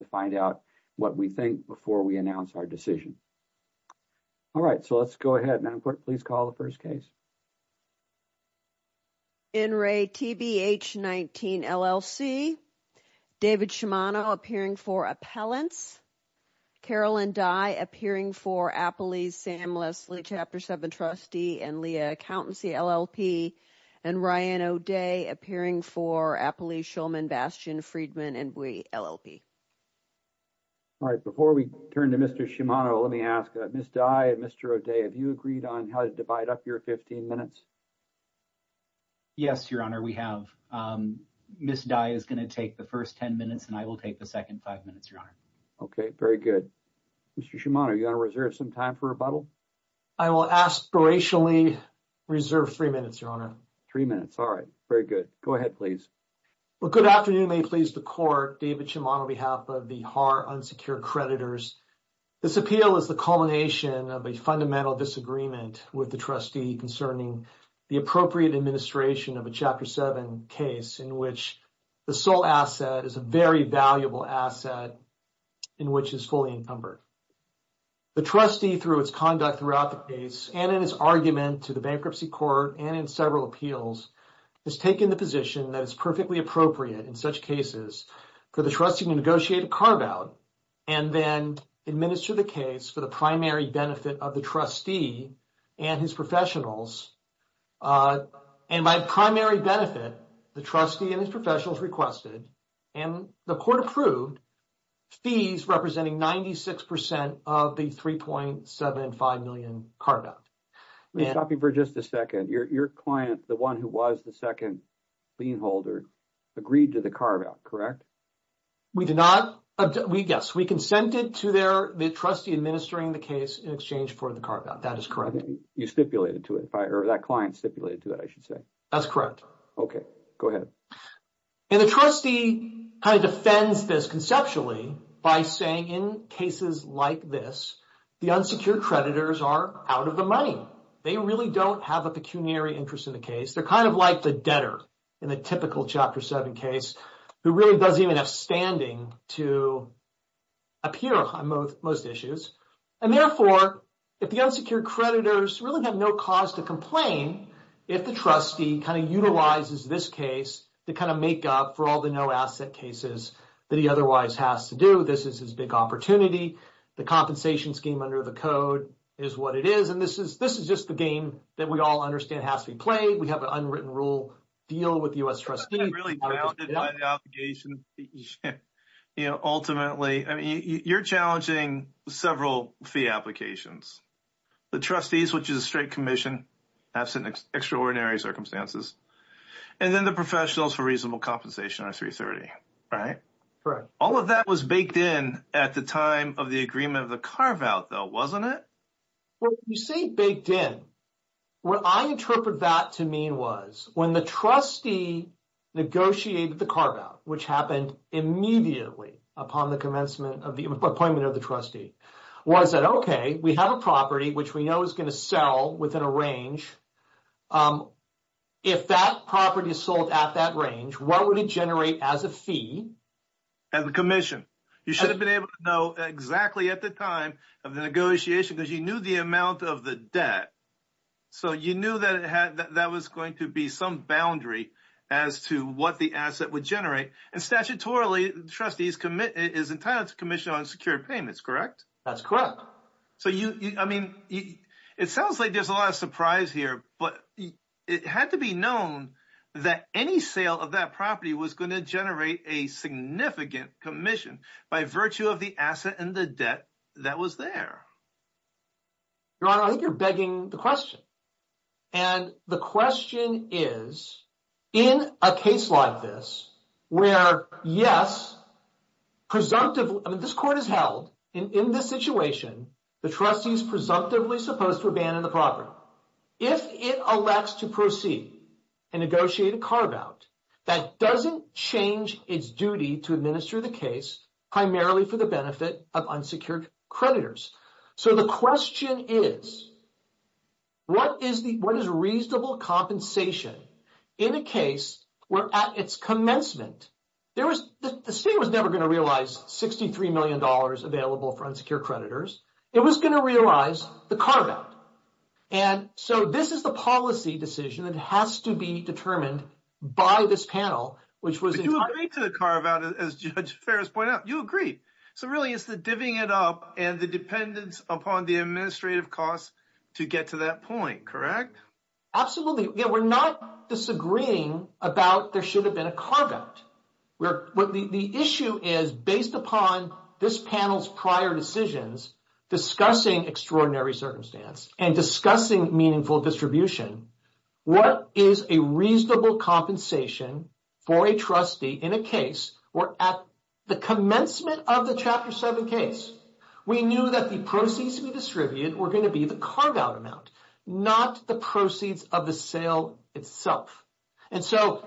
to find out what we think before we announce our decision. All right, so let's go ahead and put please call the first case. In re TBH19, LLC, David Shimano appearing for Appellants. Carolyn Dye appearing for Appalese, Sam Leslie, Chapter 7, trustee and Leah accountancy, LLP and Ryan O'Day appearing for Appalese, Schulman, Bastion, Friedman and Bui, LLP. All right, before we turn to Mr Shimano, let me ask Ms. Dye and Mr. O'Day. Have you agreed on how to divide up your 15 minutes? Yes, your honor. We have Ms. Dye is going to take the first 10 minutes and I will take the second five minutes, your honor. Okay, very good. Mr. Shimano, you got to reserve some time for rebuttal. I will aspirationally reserve three minutes, your honor. Three minutes. All right, very good. Go ahead, please. Well, good afternoon. We may please the court, David Shimano on behalf of the Har Unsecured Creditors. This appeal is the culmination of a fundamental disagreement with the trustee concerning the appropriate administration of a Chapter 7 case in which the sole asset is a very valuable asset in which is fully encumbered. The trustee through its conduct throughout the case and in his argument to the bankruptcy court and in several appeals has taken the position that it's perfectly appropriate in such cases for the trustee to negotiate a carve-out and then administer the case for the primary benefit of the trustee and his professionals. And by primary benefit, the trustee and his professionals requested and the court approved fees representing 96% of the 3.75 million carve-out. Let me stop you for just a second. Your client, the one who was the second lien holder, agreed to the carve-out, correct? We did not. Yes, we consented to the trustee administering the case in exchange for the carve-out. That is correct. You stipulated to it, or that client stipulated to that, I should say. That's correct. Okay, go ahead. And the trustee kind of defends this conceptually by saying in cases like this, the unsecured creditors are out of the money. They really don't have a pecuniary interest in the case. They're kind of like the debtor in the typical Chapter 7 case who really doesn't even have standing to appear on most issues. And therefore, if the unsecured creditors really have no cause to complain, if the trustee kind of utilizes this case to kind of make up for all the no-asset cases that he otherwise has to do, this is his big opportunity. The compensation scheme under the code is what it is. And this is just the game that we all understand has to be played. We have an unwritten rule deal with the U.S. trustee. Really grounded by the obligation, you know, ultimately, I mean, you're challenging several fee applications. The trustees, which is a straight commission, that's an extraordinary circumstances. And then the professionals for reasonable compensation are 330, right? Correct. All of that was baked in at the time of the agreement of the carve-out though, wasn't it? When you say baked in, what I interpret that to mean was when the trustee negotiated the carve-out, which happened immediately upon the commencement of the appointment of the trustee, was that, okay, we have a property which we know is going to sell within a range. If that property is sold at that range, what would it generate as a fee? As a commission. You should have been able to know exactly at the time of the amount of the debt. So you knew that it had, that was going to be some boundary as to what the asset would generate and statutorily, trustees commit, is entitled to commission on secured payments, correct? That's correct. So you, I mean, it sounds like there's a lot of surprise here, but it had to be known that any sale of that property was going to generate a significant commission by virtue of the asset and the debt that was there. Your Honor, I think you're begging the question. And the question is, in a case like this, where, yes, presumptively, I mean, this court has held in this situation, the trustee is presumptively supposed to abandon the property. If it elects to proceed and negotiate a carve-out, that doesn't change its duty to administer the case primarily for the benefit of unsecured creditors. So the question is, what is the, what is reasonable compensation in a case where at its commencement, there was, the state was never going to realize $63 million available for unsecured creditors. It was going to realize the carve-out. And so this is the policy decision that has to be determined by this panel, which was entirely- But you agreed to the carve-out as Judge Ferris pointed out. You agreed. So really, it's the divvying it up and the dependence upon the administrative costs to get to that point, correct? Absolutely. Yeah, we're not disagreeing about there should have been a carve-out. The issue is, based upon this panel's prior decisions, discussing extraordinary circumstance and discussing meaningful distribution, what is a reasonable compensation for a trustee in a case where at the commencement of the Chapter 7 case, we knew that the proceeds we distributed were going to be the carve-out amount, not the proceeds of the sale itself. And so,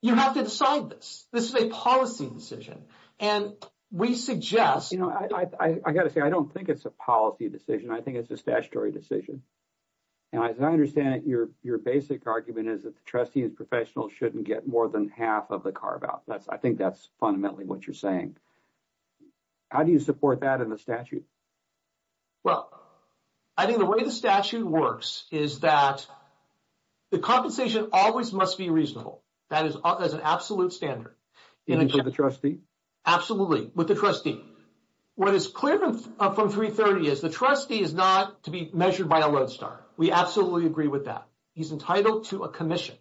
you have to decide this. This is a policy decision and we suggest- You know, I got to say, I don't think it's a policy decision. I think it's a statutory decision. And as I understand it, your basic argument is that the trustee and professional shouldn't get more than half of the carve-out. I think that's fundamentally what you're saying. How do you support that in the statute? Well, I think the way the statute works is that the compensation always must be reasonable. That is an absolute standard. Even for the trustee? Absolutely, with the trustee. What is clear from 330 is, the trustee is not to be measured by a lodestar. We absolutely agree with that. He's entitled to a commission.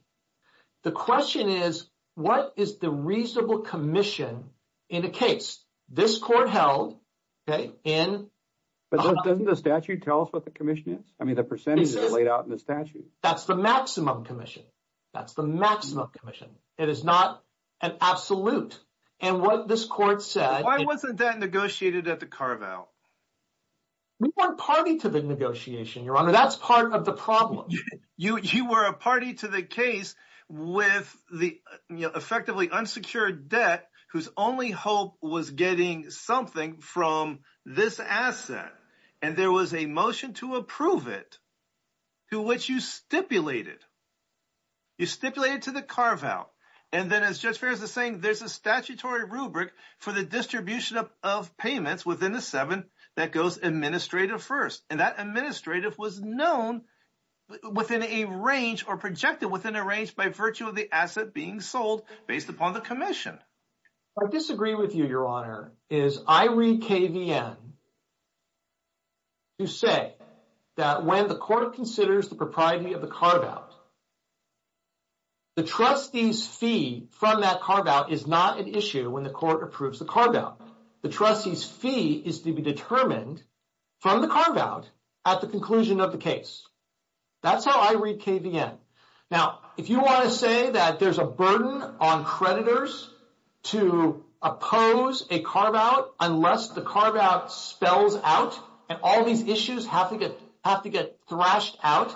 The question is, what is the reasonable commission in a case? This court held in- But doesn't the statute tell us what the commission is? I mean, the percentages are laid out in the statute. That's the maximum commission. That's the maximum commission. It is not an absolute. And what this court said- Why wasn't that negotiated at the carve-out? We weren't party to the negotiation, your honor. That's part of the problem. You were a party to the case with the effectively unsecured debt, whose only hope was getting something from this asset. And there was a motion to approve it, to which you stipulated. You stipulated to the carve-out. And then as Judge Fares is saying, there's a statutory rubric for the distribution of payments within the seven that goes administrative first. And that administrative was known within a range or projected within a range by virtue of the asset being sold based upon the commission. I disagree with you, your honor, is I read KVN to say that when the court considers the propriety of the carve-out, the trustees fee from that carve-out is not an issue when the court approves the carve-out. The trustees fee is to be determined from the carve-out at the conclusion of the case. That's how I read KVN. Now, if you want to say that there's a burden on creditors to oppose a carve-out unless the carve-out spells out and all these issues have to get thrashed out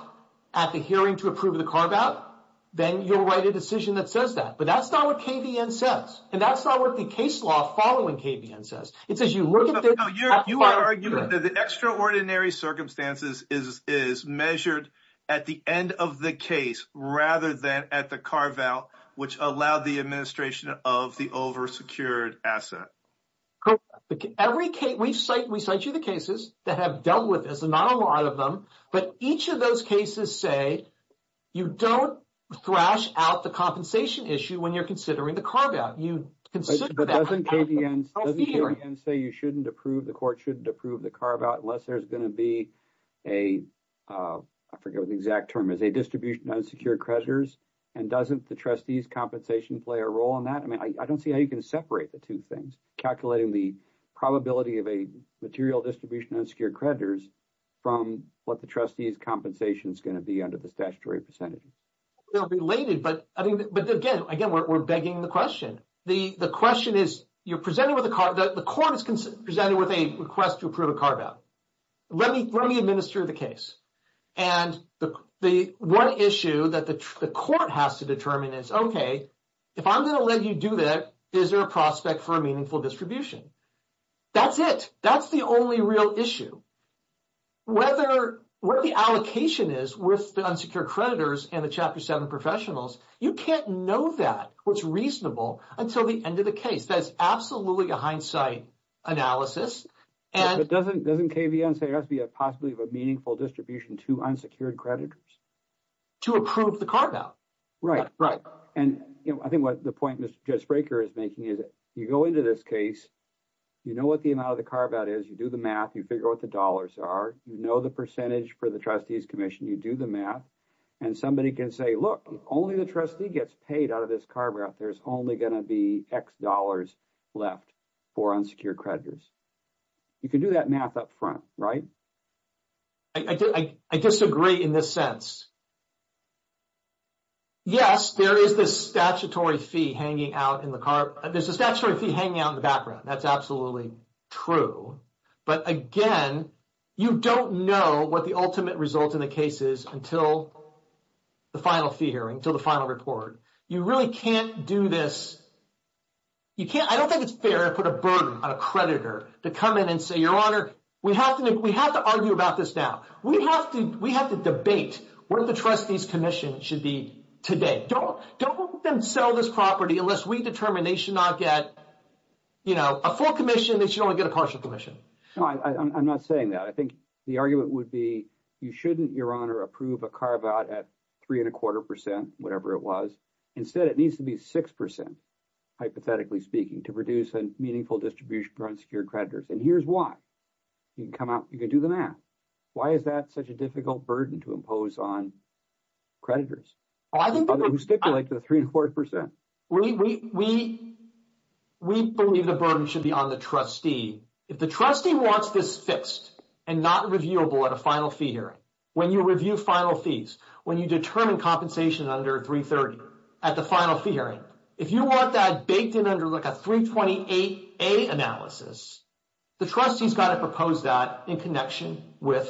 at the hearing to approve the carve-out, then you'll write a decision that says that. But that's not what KVN says and that's not what the case law following KVN says. It says you look at the extraordinary circumstances is measured at the end of the case rather than at the carve-out which allowed the administration of the over-secured asset. We cite you the cases that have dealt with this and not a lot of them, but each of those cases say you don't thrash out the compensation issue when you're considering the carve-out. You consider that. But doesn't KVN say you shouldn't approve, the court shouldn't approve the carve-out unless there's going to be a, I forget what the exact term is, a distribution of unsecured creditors and doesn't the trustees compensation play a role in that? I mean, I don't see how you can separate the two things, calculating the probability of a material distribution of unsecured creditors from what the trustees compensation is going to be under the statutory percentage. They're related, but again, we're begging the question. The question is, you're presenting with a carve-out, the court is presenting with a request to approve a carve-out. Let me administer the case. And the one issue that the court has to determine is, okay, if I'm going to let you do that, is there a prospect for a meaningful distribution? That's it. That's the only real issue. Whether, where the allocation is with the unsecured creditors and the Chapter 7 professionals, you can't know that what's reasonable until the end of the case. That's absolutely a hindsight analysis. And doesn't KVN say there has to be a possibility of a meaningful distribution to unsecured creditors? To approve the carve-out. Right, right. And you know, I think what the point Mr. Jedspreker is making is, you go into this case, you know what the amount of the carve-out is, you do the math, you figure out what the dollars are, you know the percentage for the Trustees Commission, you do the math, and somebody can say, look, if only the trustee gets paid out of this carve-out, there's only going to be X dollars left for unsecured creditors. You can do that math up front, right? I disagree in this sense. Yes, there is this statutory fee hanging out in the carve-out. There's a statutory fee hanging out in the background. That's absolutely true. But again, you don't know what the ultimate result in the case is until the final fee hearing, until the final report. You really can't do this. You can't. I don't think it's fair to put a burden on a creditor to come in and say, Your Honor, we have to argue about this now. We have to debate what the Trustees Commission should be today. Don't let them sell this property unless we determine they should not get, you know, a full commission, they should only get a partial commission. No, I'm not saying that. I think the argument would be you shouldn't, Your Honor, approve a carve-out at three and a quarter percent, whatever it was. Instead, it needs to be six percent, hypothetically speaking, to produce a meaningful distribution for unsecured creditors. And here's why. You can come out, you can do the math. Why is that such a difficult burden to impose on creditors? Others who stipulate the three and a quarter percent. We believe the burden should be on the trustee. If the trustee wants this fixed and not reviewable at a final fee hearing, when you review final fees, when you determine compensation under 330 at the final fee hearing, if you want that baked in under like a 328A analysis, the trustee's got to propose that in connection with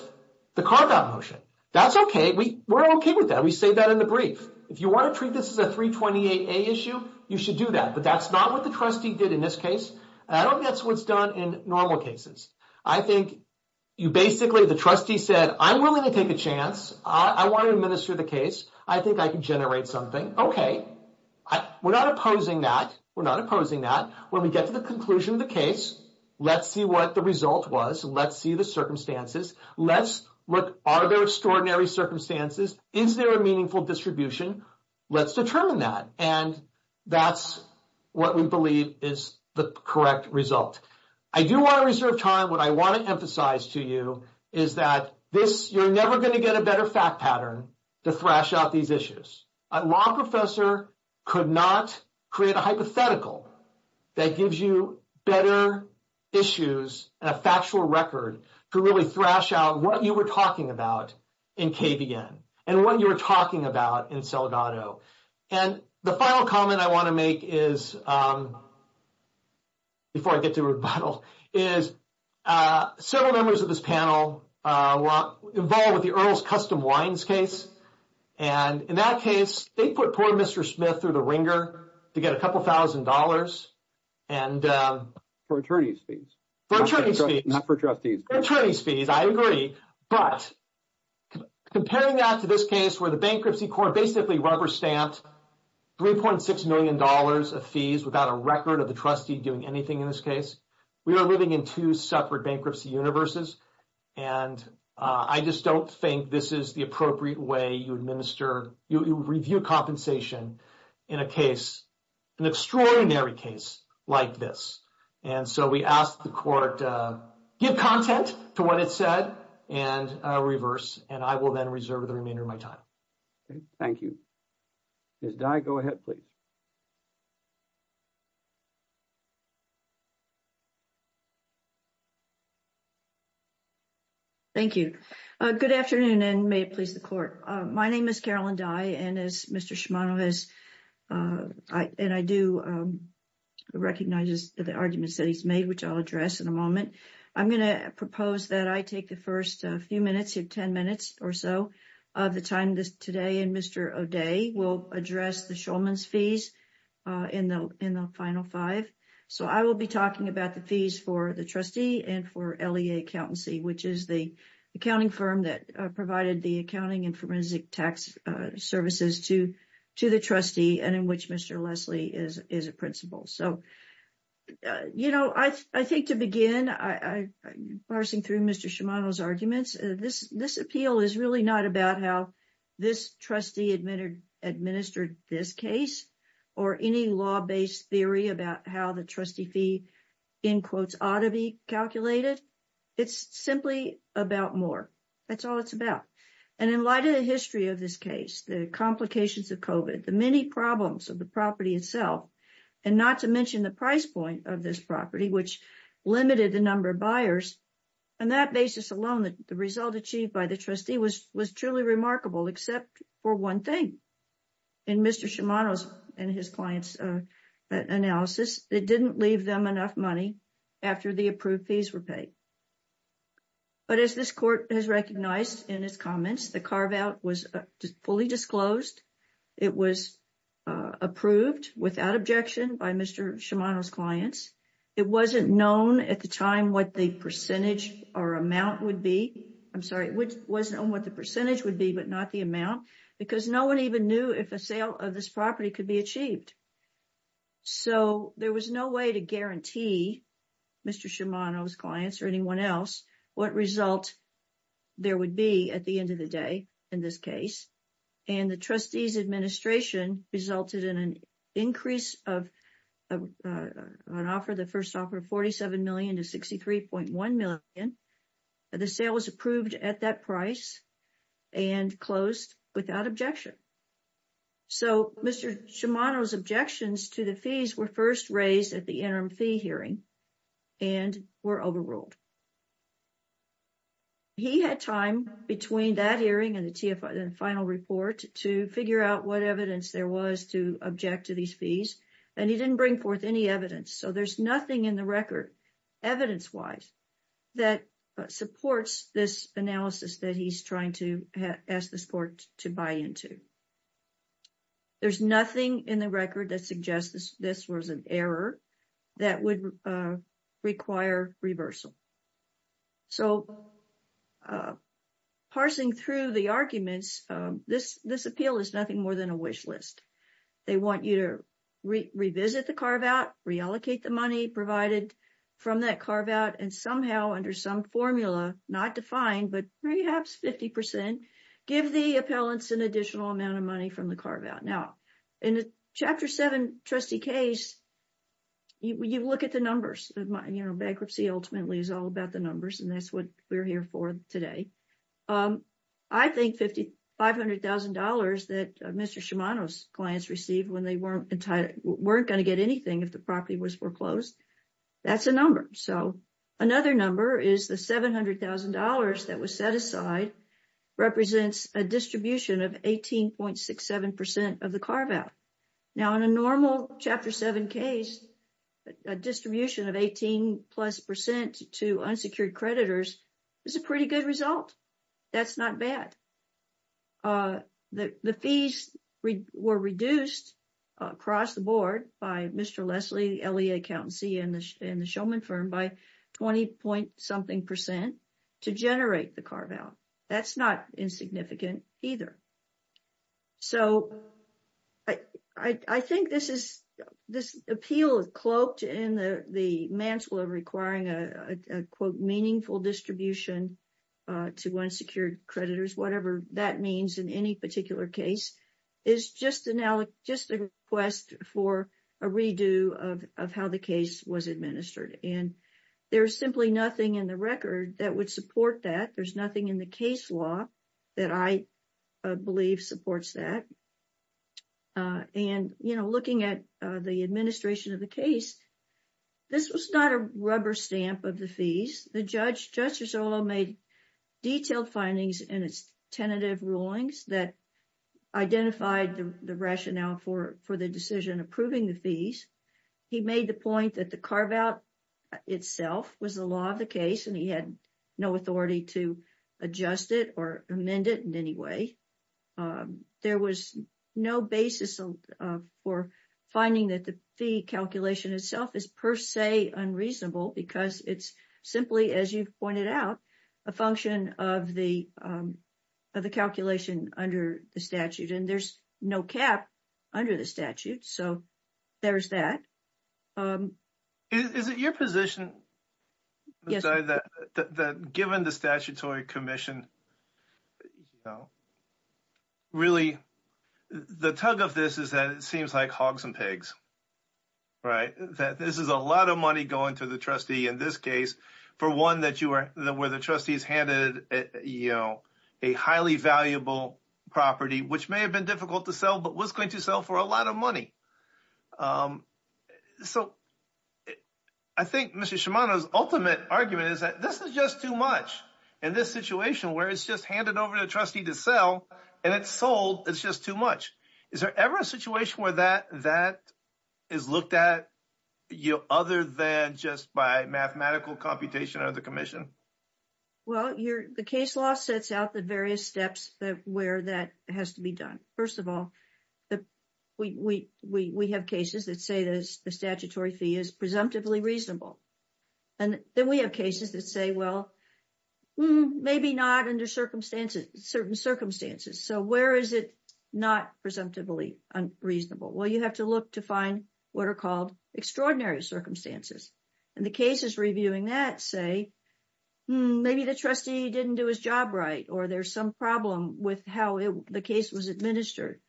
the carve-out motion. That's okay. We're okay with that. We say that in the brief. If you want to treat this as a 328A issue, you should do that. But that's not what the trustee did in this case. And I don't guess what's done in normal cases. I think you basically, the trustee said, I'm willing to take a chance. I want to administer the case. I think I can generate something. Okay. We're not opposing that. We're not opposing that. When we get to the conclusion of the case, let's see what the result was. Let's see the circumstances. Let's look, are there extraordinary circumstances? Is there a meaningful distribution? Let's determine that. And that's what we believe is the correct result. I do want to reserve time. What I want to emphasize to you is that this, you're never going to get a better fact pattern to thrash out these issues. A law professor could not create a hypothetical that gives you better issues and a factual record to really thrash out what you were talking about in KVN. And what you were talking about in Selgado. And the final comment I want to make is, before I get to rebuttal, is several members of this panel were involved with the Earls Custom Wines case. And in that case, they put poor Mr. Smith through the wringer to get a couple thousand dollars. And for attorney's fees. For attorney's fees. Not for trustees. For attorney's fees, I agree. But comparing that to this case where the bankruptcy court basically rubber stamped $3.6 million of fees without a record of the trustee doing anything in this case. We are living in two separate bankruptcy universes. And I just don't think this is the appropriate way you administer, you review compensation in a case, an extraordinary case like this. And so we asked the court, give content to what it said. And reverse. And I will then reserve the remainder of my time. Thank you. Ms. Dye, go ahead, please. Thank you. Good afternoon and may it please the court. My name is Carolyn Dye and as Mr. Shimano has, and I do recognize the arguments that he's made, which I'll address in a moment. I'm going to propose that I take the first few minutes of 10 minutes or so of the time this today and Mr. O'Day will address the Shulman's fees in the final five. So I will be talking about the fees for the trustee and for LEA accountancy, which is the accounting firm that provided the accounting and forensic tax services to the trustee and in which Mr. Leslie is a principal. So, you know, I think to begin, parsing through Mr. Shimano's arguments, this appeal is really not about how this trustee administered this case or any law-based theory about how the trustee fee, in quotes, ought to be It's simply about more. That's all it's about. And in light of the history of this case, the complications of COVID, the many problems of the property itself, and not to mention the price point of this property, which limited the number of buyers, on that basis alone, the result achieved by the trustee was truly remarkable, except for one thing. In Mr. Shimano's and his clients' analysis, it didn't leave them enough money after the approved fees were paid. But as this court has recognized in his comments, the carve-out was fully disclosed. It was approved without objection by Mr. Shimano's clients. It wasn't known at the time what the percentage or amount would be. I'm sorry, it wasn't on what the percentage would be, but not the amount, because no one even knew if a sale of this property could be achieved. So there was no way to guarantee Mr. Shimano's clients or anyone else what result there would be at the end of the day in this case, and the trustee's administration resulted in an increase of an offer, the first offer of $47 million to $63.1 million. The sale was approved at that price and closed without objection. So Mr. Shimano's objections to the fees were first raised at the interim fee hearing and were overruled. He had time between that hearing and the TFI and final report to figure out what evidence there was to object to these fees, and he didn't bring forth any evidence. So there's nothing in the record, evidence-wise, that supports this analysis that he's trying to ask this court to buy into. There's nothing in the record that suggests this was an error that would require reversal. So parsing through the arguments, this appeal is nothing more than a wish list. They want you to revisit the carve-out, reallocate the money provided from that carve-out, and somehow under some formula, not defined, but perhaps 50%, give the appellants an additional amount of money from the carve-out. Now, in the Chapter 7 trustee case, you look at the numbers, bankruptcy ultimately is all about the numbers, and that's what we're here for today. I think $500,000 that Mr. Shimano's clients received when they weren't going to get anything if the property was foreclosed, that's a number. So another number is the $700,000 that was set aside, represents a distribution of 18.67% of the carve-out. Now, in a normal Chapter 7 case, a distribution of 18 plus percent to unsecured creditors is a pretty good result. That's not bad. The fees were reduced across the board by Mr. Leslie, LEA accountancy, and the showman firm by 20-point something percent to generate the carve-out. That's not insignificant either. So, I think this is, this appeal is cloaked in the mantle of requiring a, quote, meaningful distribution to unsecured creditors, whatever that means in any particular case, is just a request for a redo of how the case was administered. And there's simply nothing in the record that would support that. There's nothing in the case law that I believe supports that. And, you know, looking at the administration of the case, this was not a rubber stamp of the fees. The judge, Justice Orloff, made detailed findings in its tentative rulings that identified the rationale for the decision approving the fees. He made the point that the carve-out itself was the law of the city to adjust it or amend it in any way. There was no basis for finding that the fee calculation itself is per se unreasonable because it's simply, as you pointed out, a function of the calculation under the statute. And there's no cap under the statute. So, there's that. Is it your position that, given the Statutory Commission, really, the tug of this is that it seems like hogs and pigs, right? That this is a lot of money going to the trustee in this case, for one, where the trustees handed, you know, a highly valuable property, which may have been difficult to sell, but was going to sell for a lot of money. So, I think Mr. Shimano's ultimate argument is that this is just too much in this situation where it's just handed over to the trustee to sell and it's sold. It's just too much. Is there ever a situation where that is looked at, you know, other than just by mathematical computation under the commission? Well, the case law sets out the various steps where that has to be done. First of all, we have cases that say the statutory fee is presumptively reasonable. And then we have cases that say, well, maybe not under certain circumstances. So, where is it not presumptively unreasonable? Well, you have to look to find what are called extraordinary circumstances. And the cases reviewing that say, maybe the trustee didn't do his job right, or there's some problem with how the case was administered,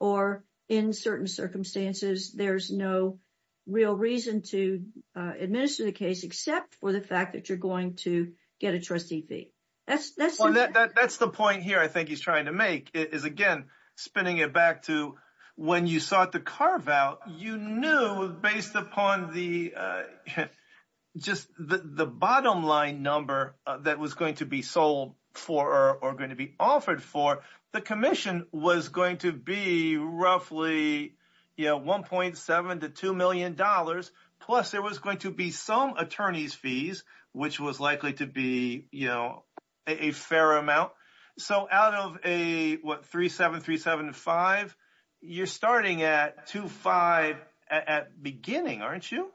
or in certain circumstances, there's no real reason to administer the case except for the fact that you're going to get a trustee fee. That's the point here. I think he's trying to make is, again, spinning it back to when you sought the carve-out, you knew based upon the just the bottom line number that was going to be sold for or going to be offered for, the commission was going to be roughly, you know, 1.7 to 2 million dollars, plus there was going to be some attorney's fees, which was likely to be, you know, a fair amount. So out of a, what, 3-7, 3-7-5, you're starting at 2-5 at beginning, aren't you?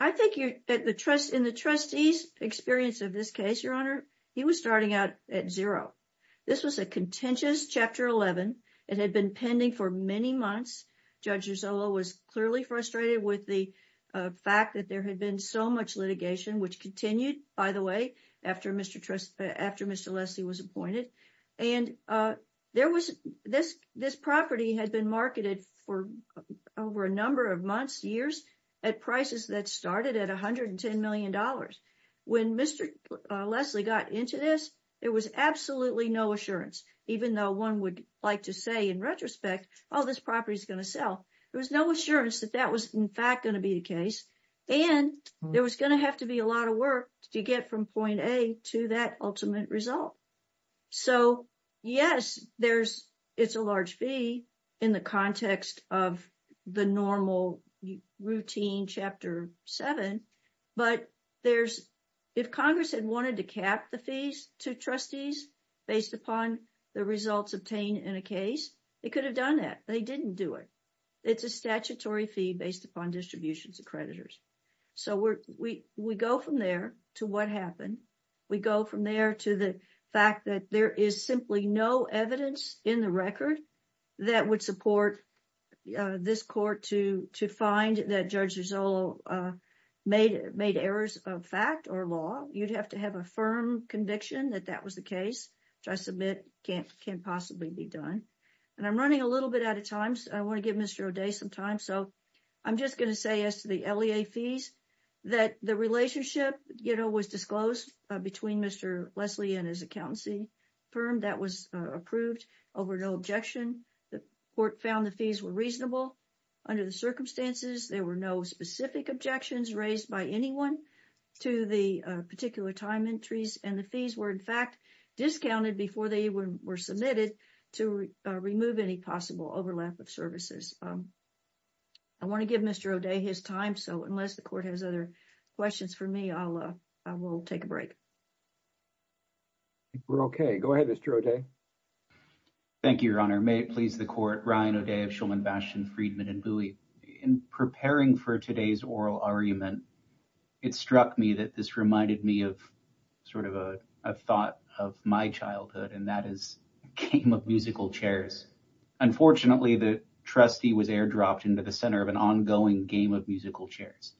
I think in the trustee's experience of this case, Your Honor, he was starting out at zero. This was a contentious Chapter 11. It had been pending for many months. Judge Gisello was clearly frustrated with the fact that there had been so much litigation, which continued, by the way, after Mr. Leslie was appointed. And there was, this property had been marketed for over a number of months, years, at prices that started at 110 million dollars. When Mr. Leslie got into this, there was absolutely no assurance, even though one would like to say in retrospect, oh, this property is going to sell. There was no assurance that that was, in fact, going to be the case. And there was going to have to be a lot of work to get from point A to that ultimate result. So, yes, there's, it's a large fee in the context of the normal routine Chapter 7, but there's, if Congress had wanted to cap the fees to trustees based upon the results obtained in a case, they could have done that. They didn't do it. It's a statutory fee based upon distributions of creditors. So we go from there to what happened. We go from there to the fact that there is simply no evidence in the record that would support this court to find that Judge Gisolo made errors of fact or law. You'd have to have a firm conviction that that was the case, which I submit can't possibly be done. And I'm running a little bit out of time. I want to give Mr. O'Day some time. So I'm just going to say as to the LEA fees, that the relationship, you know, was disclosed between Mr. Leslie and his accountancy firm. That was approved over no objection. The court found the fees were reasonable under the circumstances. There were no specific objections raised by anyone to the particular time entries and the fees were in fact discounted before they were submitted to remove any possible overlap of services. I want to give Mr. O'Day his time. So unless the court has other questions for me, I will take a break. We're okay. Go ahead, Mr. O'Day. Thank you, Your Honor. May it please the court. Ryan O'Day of Shulman Bastion, Friedman & Bowie. In preparing for today's oral argument, it struck me that this reminded me of sort of a thought of my childhood and that is a game of musical chairs. Unfortunately, the trustee was airdropped into the center of an ongoing game of musical chairs.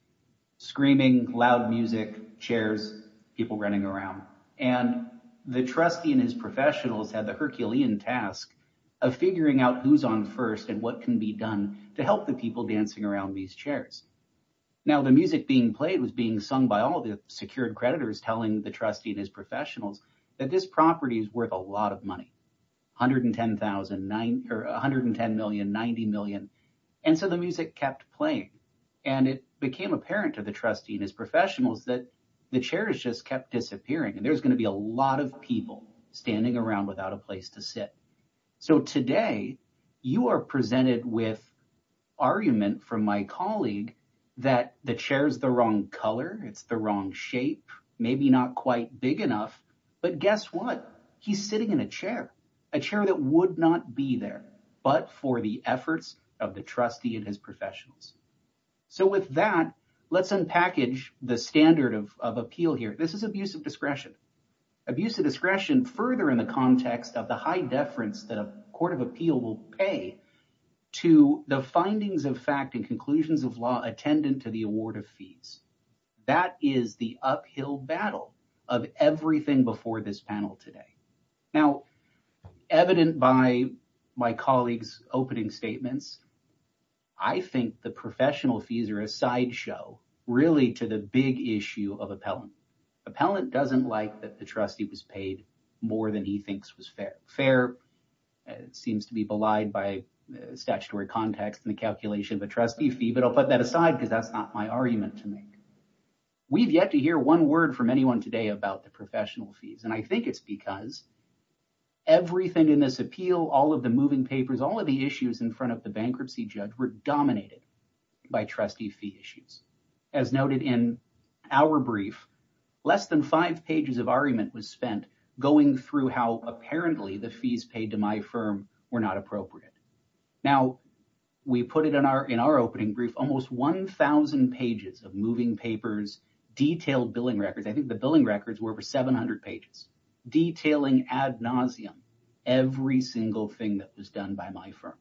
Screaming, loud music, chairs, people running around, and the trustee and his professionals had the Herculean task of figuring out who's on first and what can be done to help the people dancing around these chairs. Now, the music being played was being sung by all the secured creditors telling the trustee and his professionals that this property is worth a lot of money, $110,000,000, $90,000,000. And so the music kept playing and it became apparent to the trustee and his professionals that the chairs just kept disappearing and there's going to be a lot of people standing around without a place to sit. So today, you are presented with argument from my colleague that the chair is the wrong color. It's the wrong shape, maybe not quite big enough. But guess what? He's sitting in a chair, a chair that would not be there, but for the efforts of the trustee and his professionals. So with that, let's unpackage the standard of appeal here. This is abuse of discretion. Abuse of discretion further in the context of the high deference that a court of appeal will pay to the findings of fact and conclusions of law attendant to the award of fees. That is the uphill battle of everything before this panel today. Now, evident by my colleague's opening statements, I think the professional fees are a sideshow really to the big issue of appellant. Appellant doesn't like that the trustee was paid more than he thinks was fair. Fair seems to be belied by statutory context in the calculation of a trustee fee, but I'll put that aside because that's not my argument to make. We've yet to hear one word from anyone today about the professional fees, and I think it's because everything in this appeal, all of the moving papers, all of the issues in front of the bankruptcy judge were dominated by trustee fee issues. As noted in our brief, less than five pages of argument was spent going through how apparently the fees paid to my firm were not appropriate. Now, we put it in our opening brief, almost 1,000 pages of moving papers, detailed billing records. I think the billing records were over 700 pages, detailing ad nauseum every single thing that was done by my firm.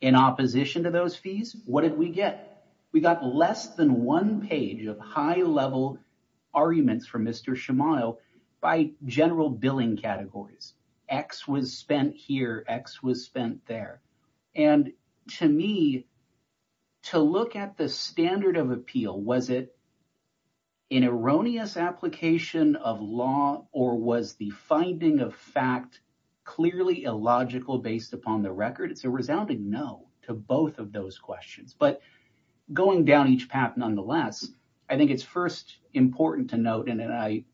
In opposition to those fees, what did we get? We got less than one page of high-level arguments from Mr. Shamil by general billing categories. X was spent here, X was spent there. And to me, to look at the standard of appeal, was it an erroneous application of law or was the finding of fact clearly illogical based upon the record? It's a resounding no to both of those questions. But going down each path, nonetheless, I think it's first important to note, and I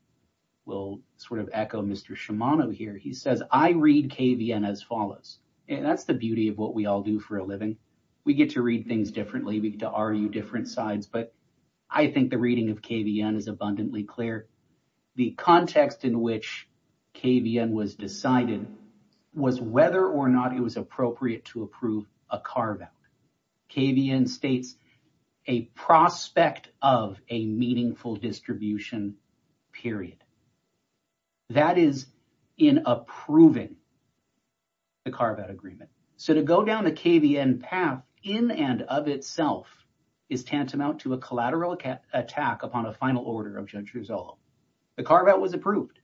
will sort of echo Mr. Shimano here. He says, I read KVN as follows, and that's the beauty of what we all do for a living. We get to read things differently. We get to argue different sides, but I think the reading of KVN is abundantly clear. The context in which KVN was decided was whether or not it was appropriate to approve a carve-out. KVN states, a prospect of a meaningful distribution, period. That is in approving the carve-out agreement. So to go down the KVN path in and of itself is tantamount to a collateral attack upon a final order of Judge Rizzolo. The carve-out was approved.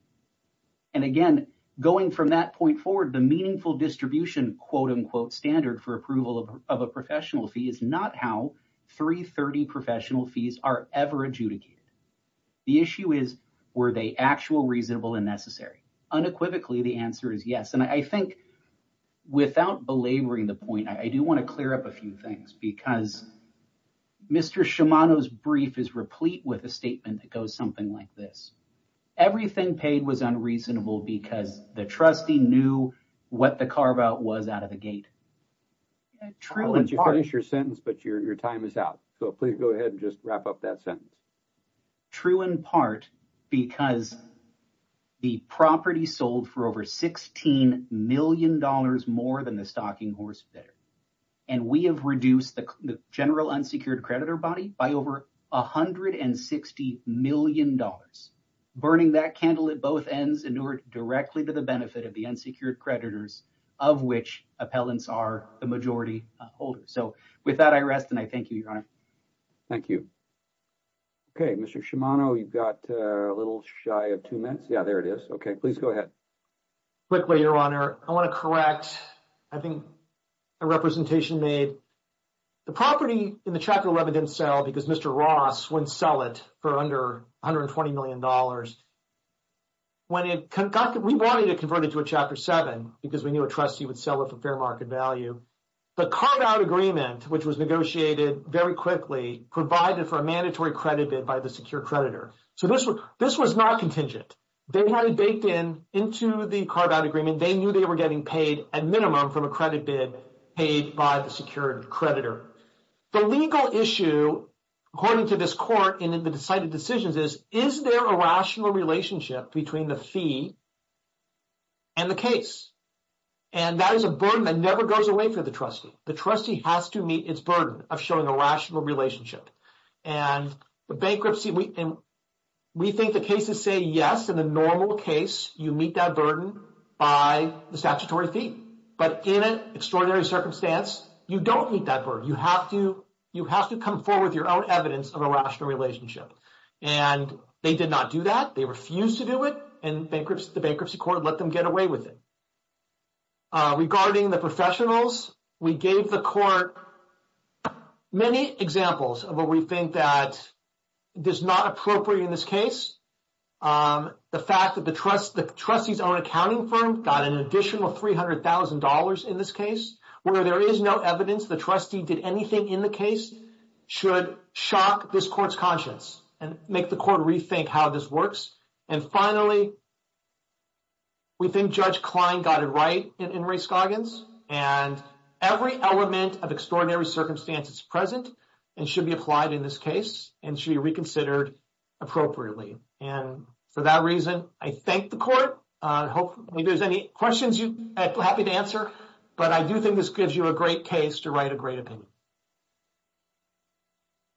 And again, going from that point forward, the meaningful distribution quote-unquote standard for approval of a professional fee is not how 330 professional fees are ever adjudicated. The issue is, were they actual, reasonable, and necessary? Unequivocally, the answer is yes. And I think without belaboring the point, I do want to clear up a few things because Mr. Shimano's brief is replete with a statement that goes something like this. Everything paid was unreasonable because the trustee knew what the carve-out was out of the gate. True in part... I'll let you finish your sentence, but your time is out. So please go ahead and just wrap up that sentence. True in part because the property sold for over 16 million dollars more than the stocking horse bidder. And we have reduced the general unsecured creditor body by over 160 million dollars. Burning that candle at both ends in order directly to the benefit of the unsecured creditors of which appellants are the majority holders. So with that, I rest and I thank you, Your Honor. Thank you. Okay, Mr. Shimano, you've got a little shy of two minutes. Yeah, there it is. Okay, please go ahead. Quickly, Your Honor. I want to correct, I think, a representation made. The property in the Chapter 11 didn't sell because Mr. Ross wouldn't sell it for under 120 million dollars. When it got... We wanted to convert it to a Chapter 7 because we knew a trustee would sell it for fair market value. The carve-out agreement, which was negotiated very quickly, provided for a mandatory credit bid by the secured creditor. So this was not contingent. They had it baked in into the carve-out agreement. They knew they were getting paid at minimum from a credit bid paid by the secured creditor. The legal issue, according to this court and in the decided decisions is, is there a rational relationship between the fee and the case? And that is a burden that never goes away for the trustee. The trustee has to meet its burden of showing a rational relationship. And the bankruptcy, we think the cases say, yes, in the normal case, you meet that burden by the statutory fee. But in an extraordinary circumstance, you don't meet that burden. You have to come forward with your own evidence of a rational relationship. And they did not do that. They refused to do it and the bankruptcy court let them get away with it. Regarding the professionals, we gave the court many examples of what we think that does not appropriate in this case. The fact that the trustee's own accounting firm got an additional $300,000 in this case, where there is no evidence the trustee did anything in the case should shock this court's conscience and make the court rethink how this works. And finally, we think Judge Klein got it right in Ray Scoggins and every element of extraordinary circumstances present and should be applied in this case and should be reconsidered appropriately. And for that reason, I thank the court. Hopefully, if there's any questions, I'm happy to answer. But I do think this gives you a great case to write a great opinion.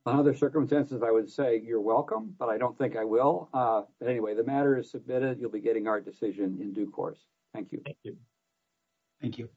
On other circumstances, I would say you're welcome, but I don't think I will. But anyway, the matter is submitted. You'll be getting our decision in due course. Thank you. Thank you. Thank you.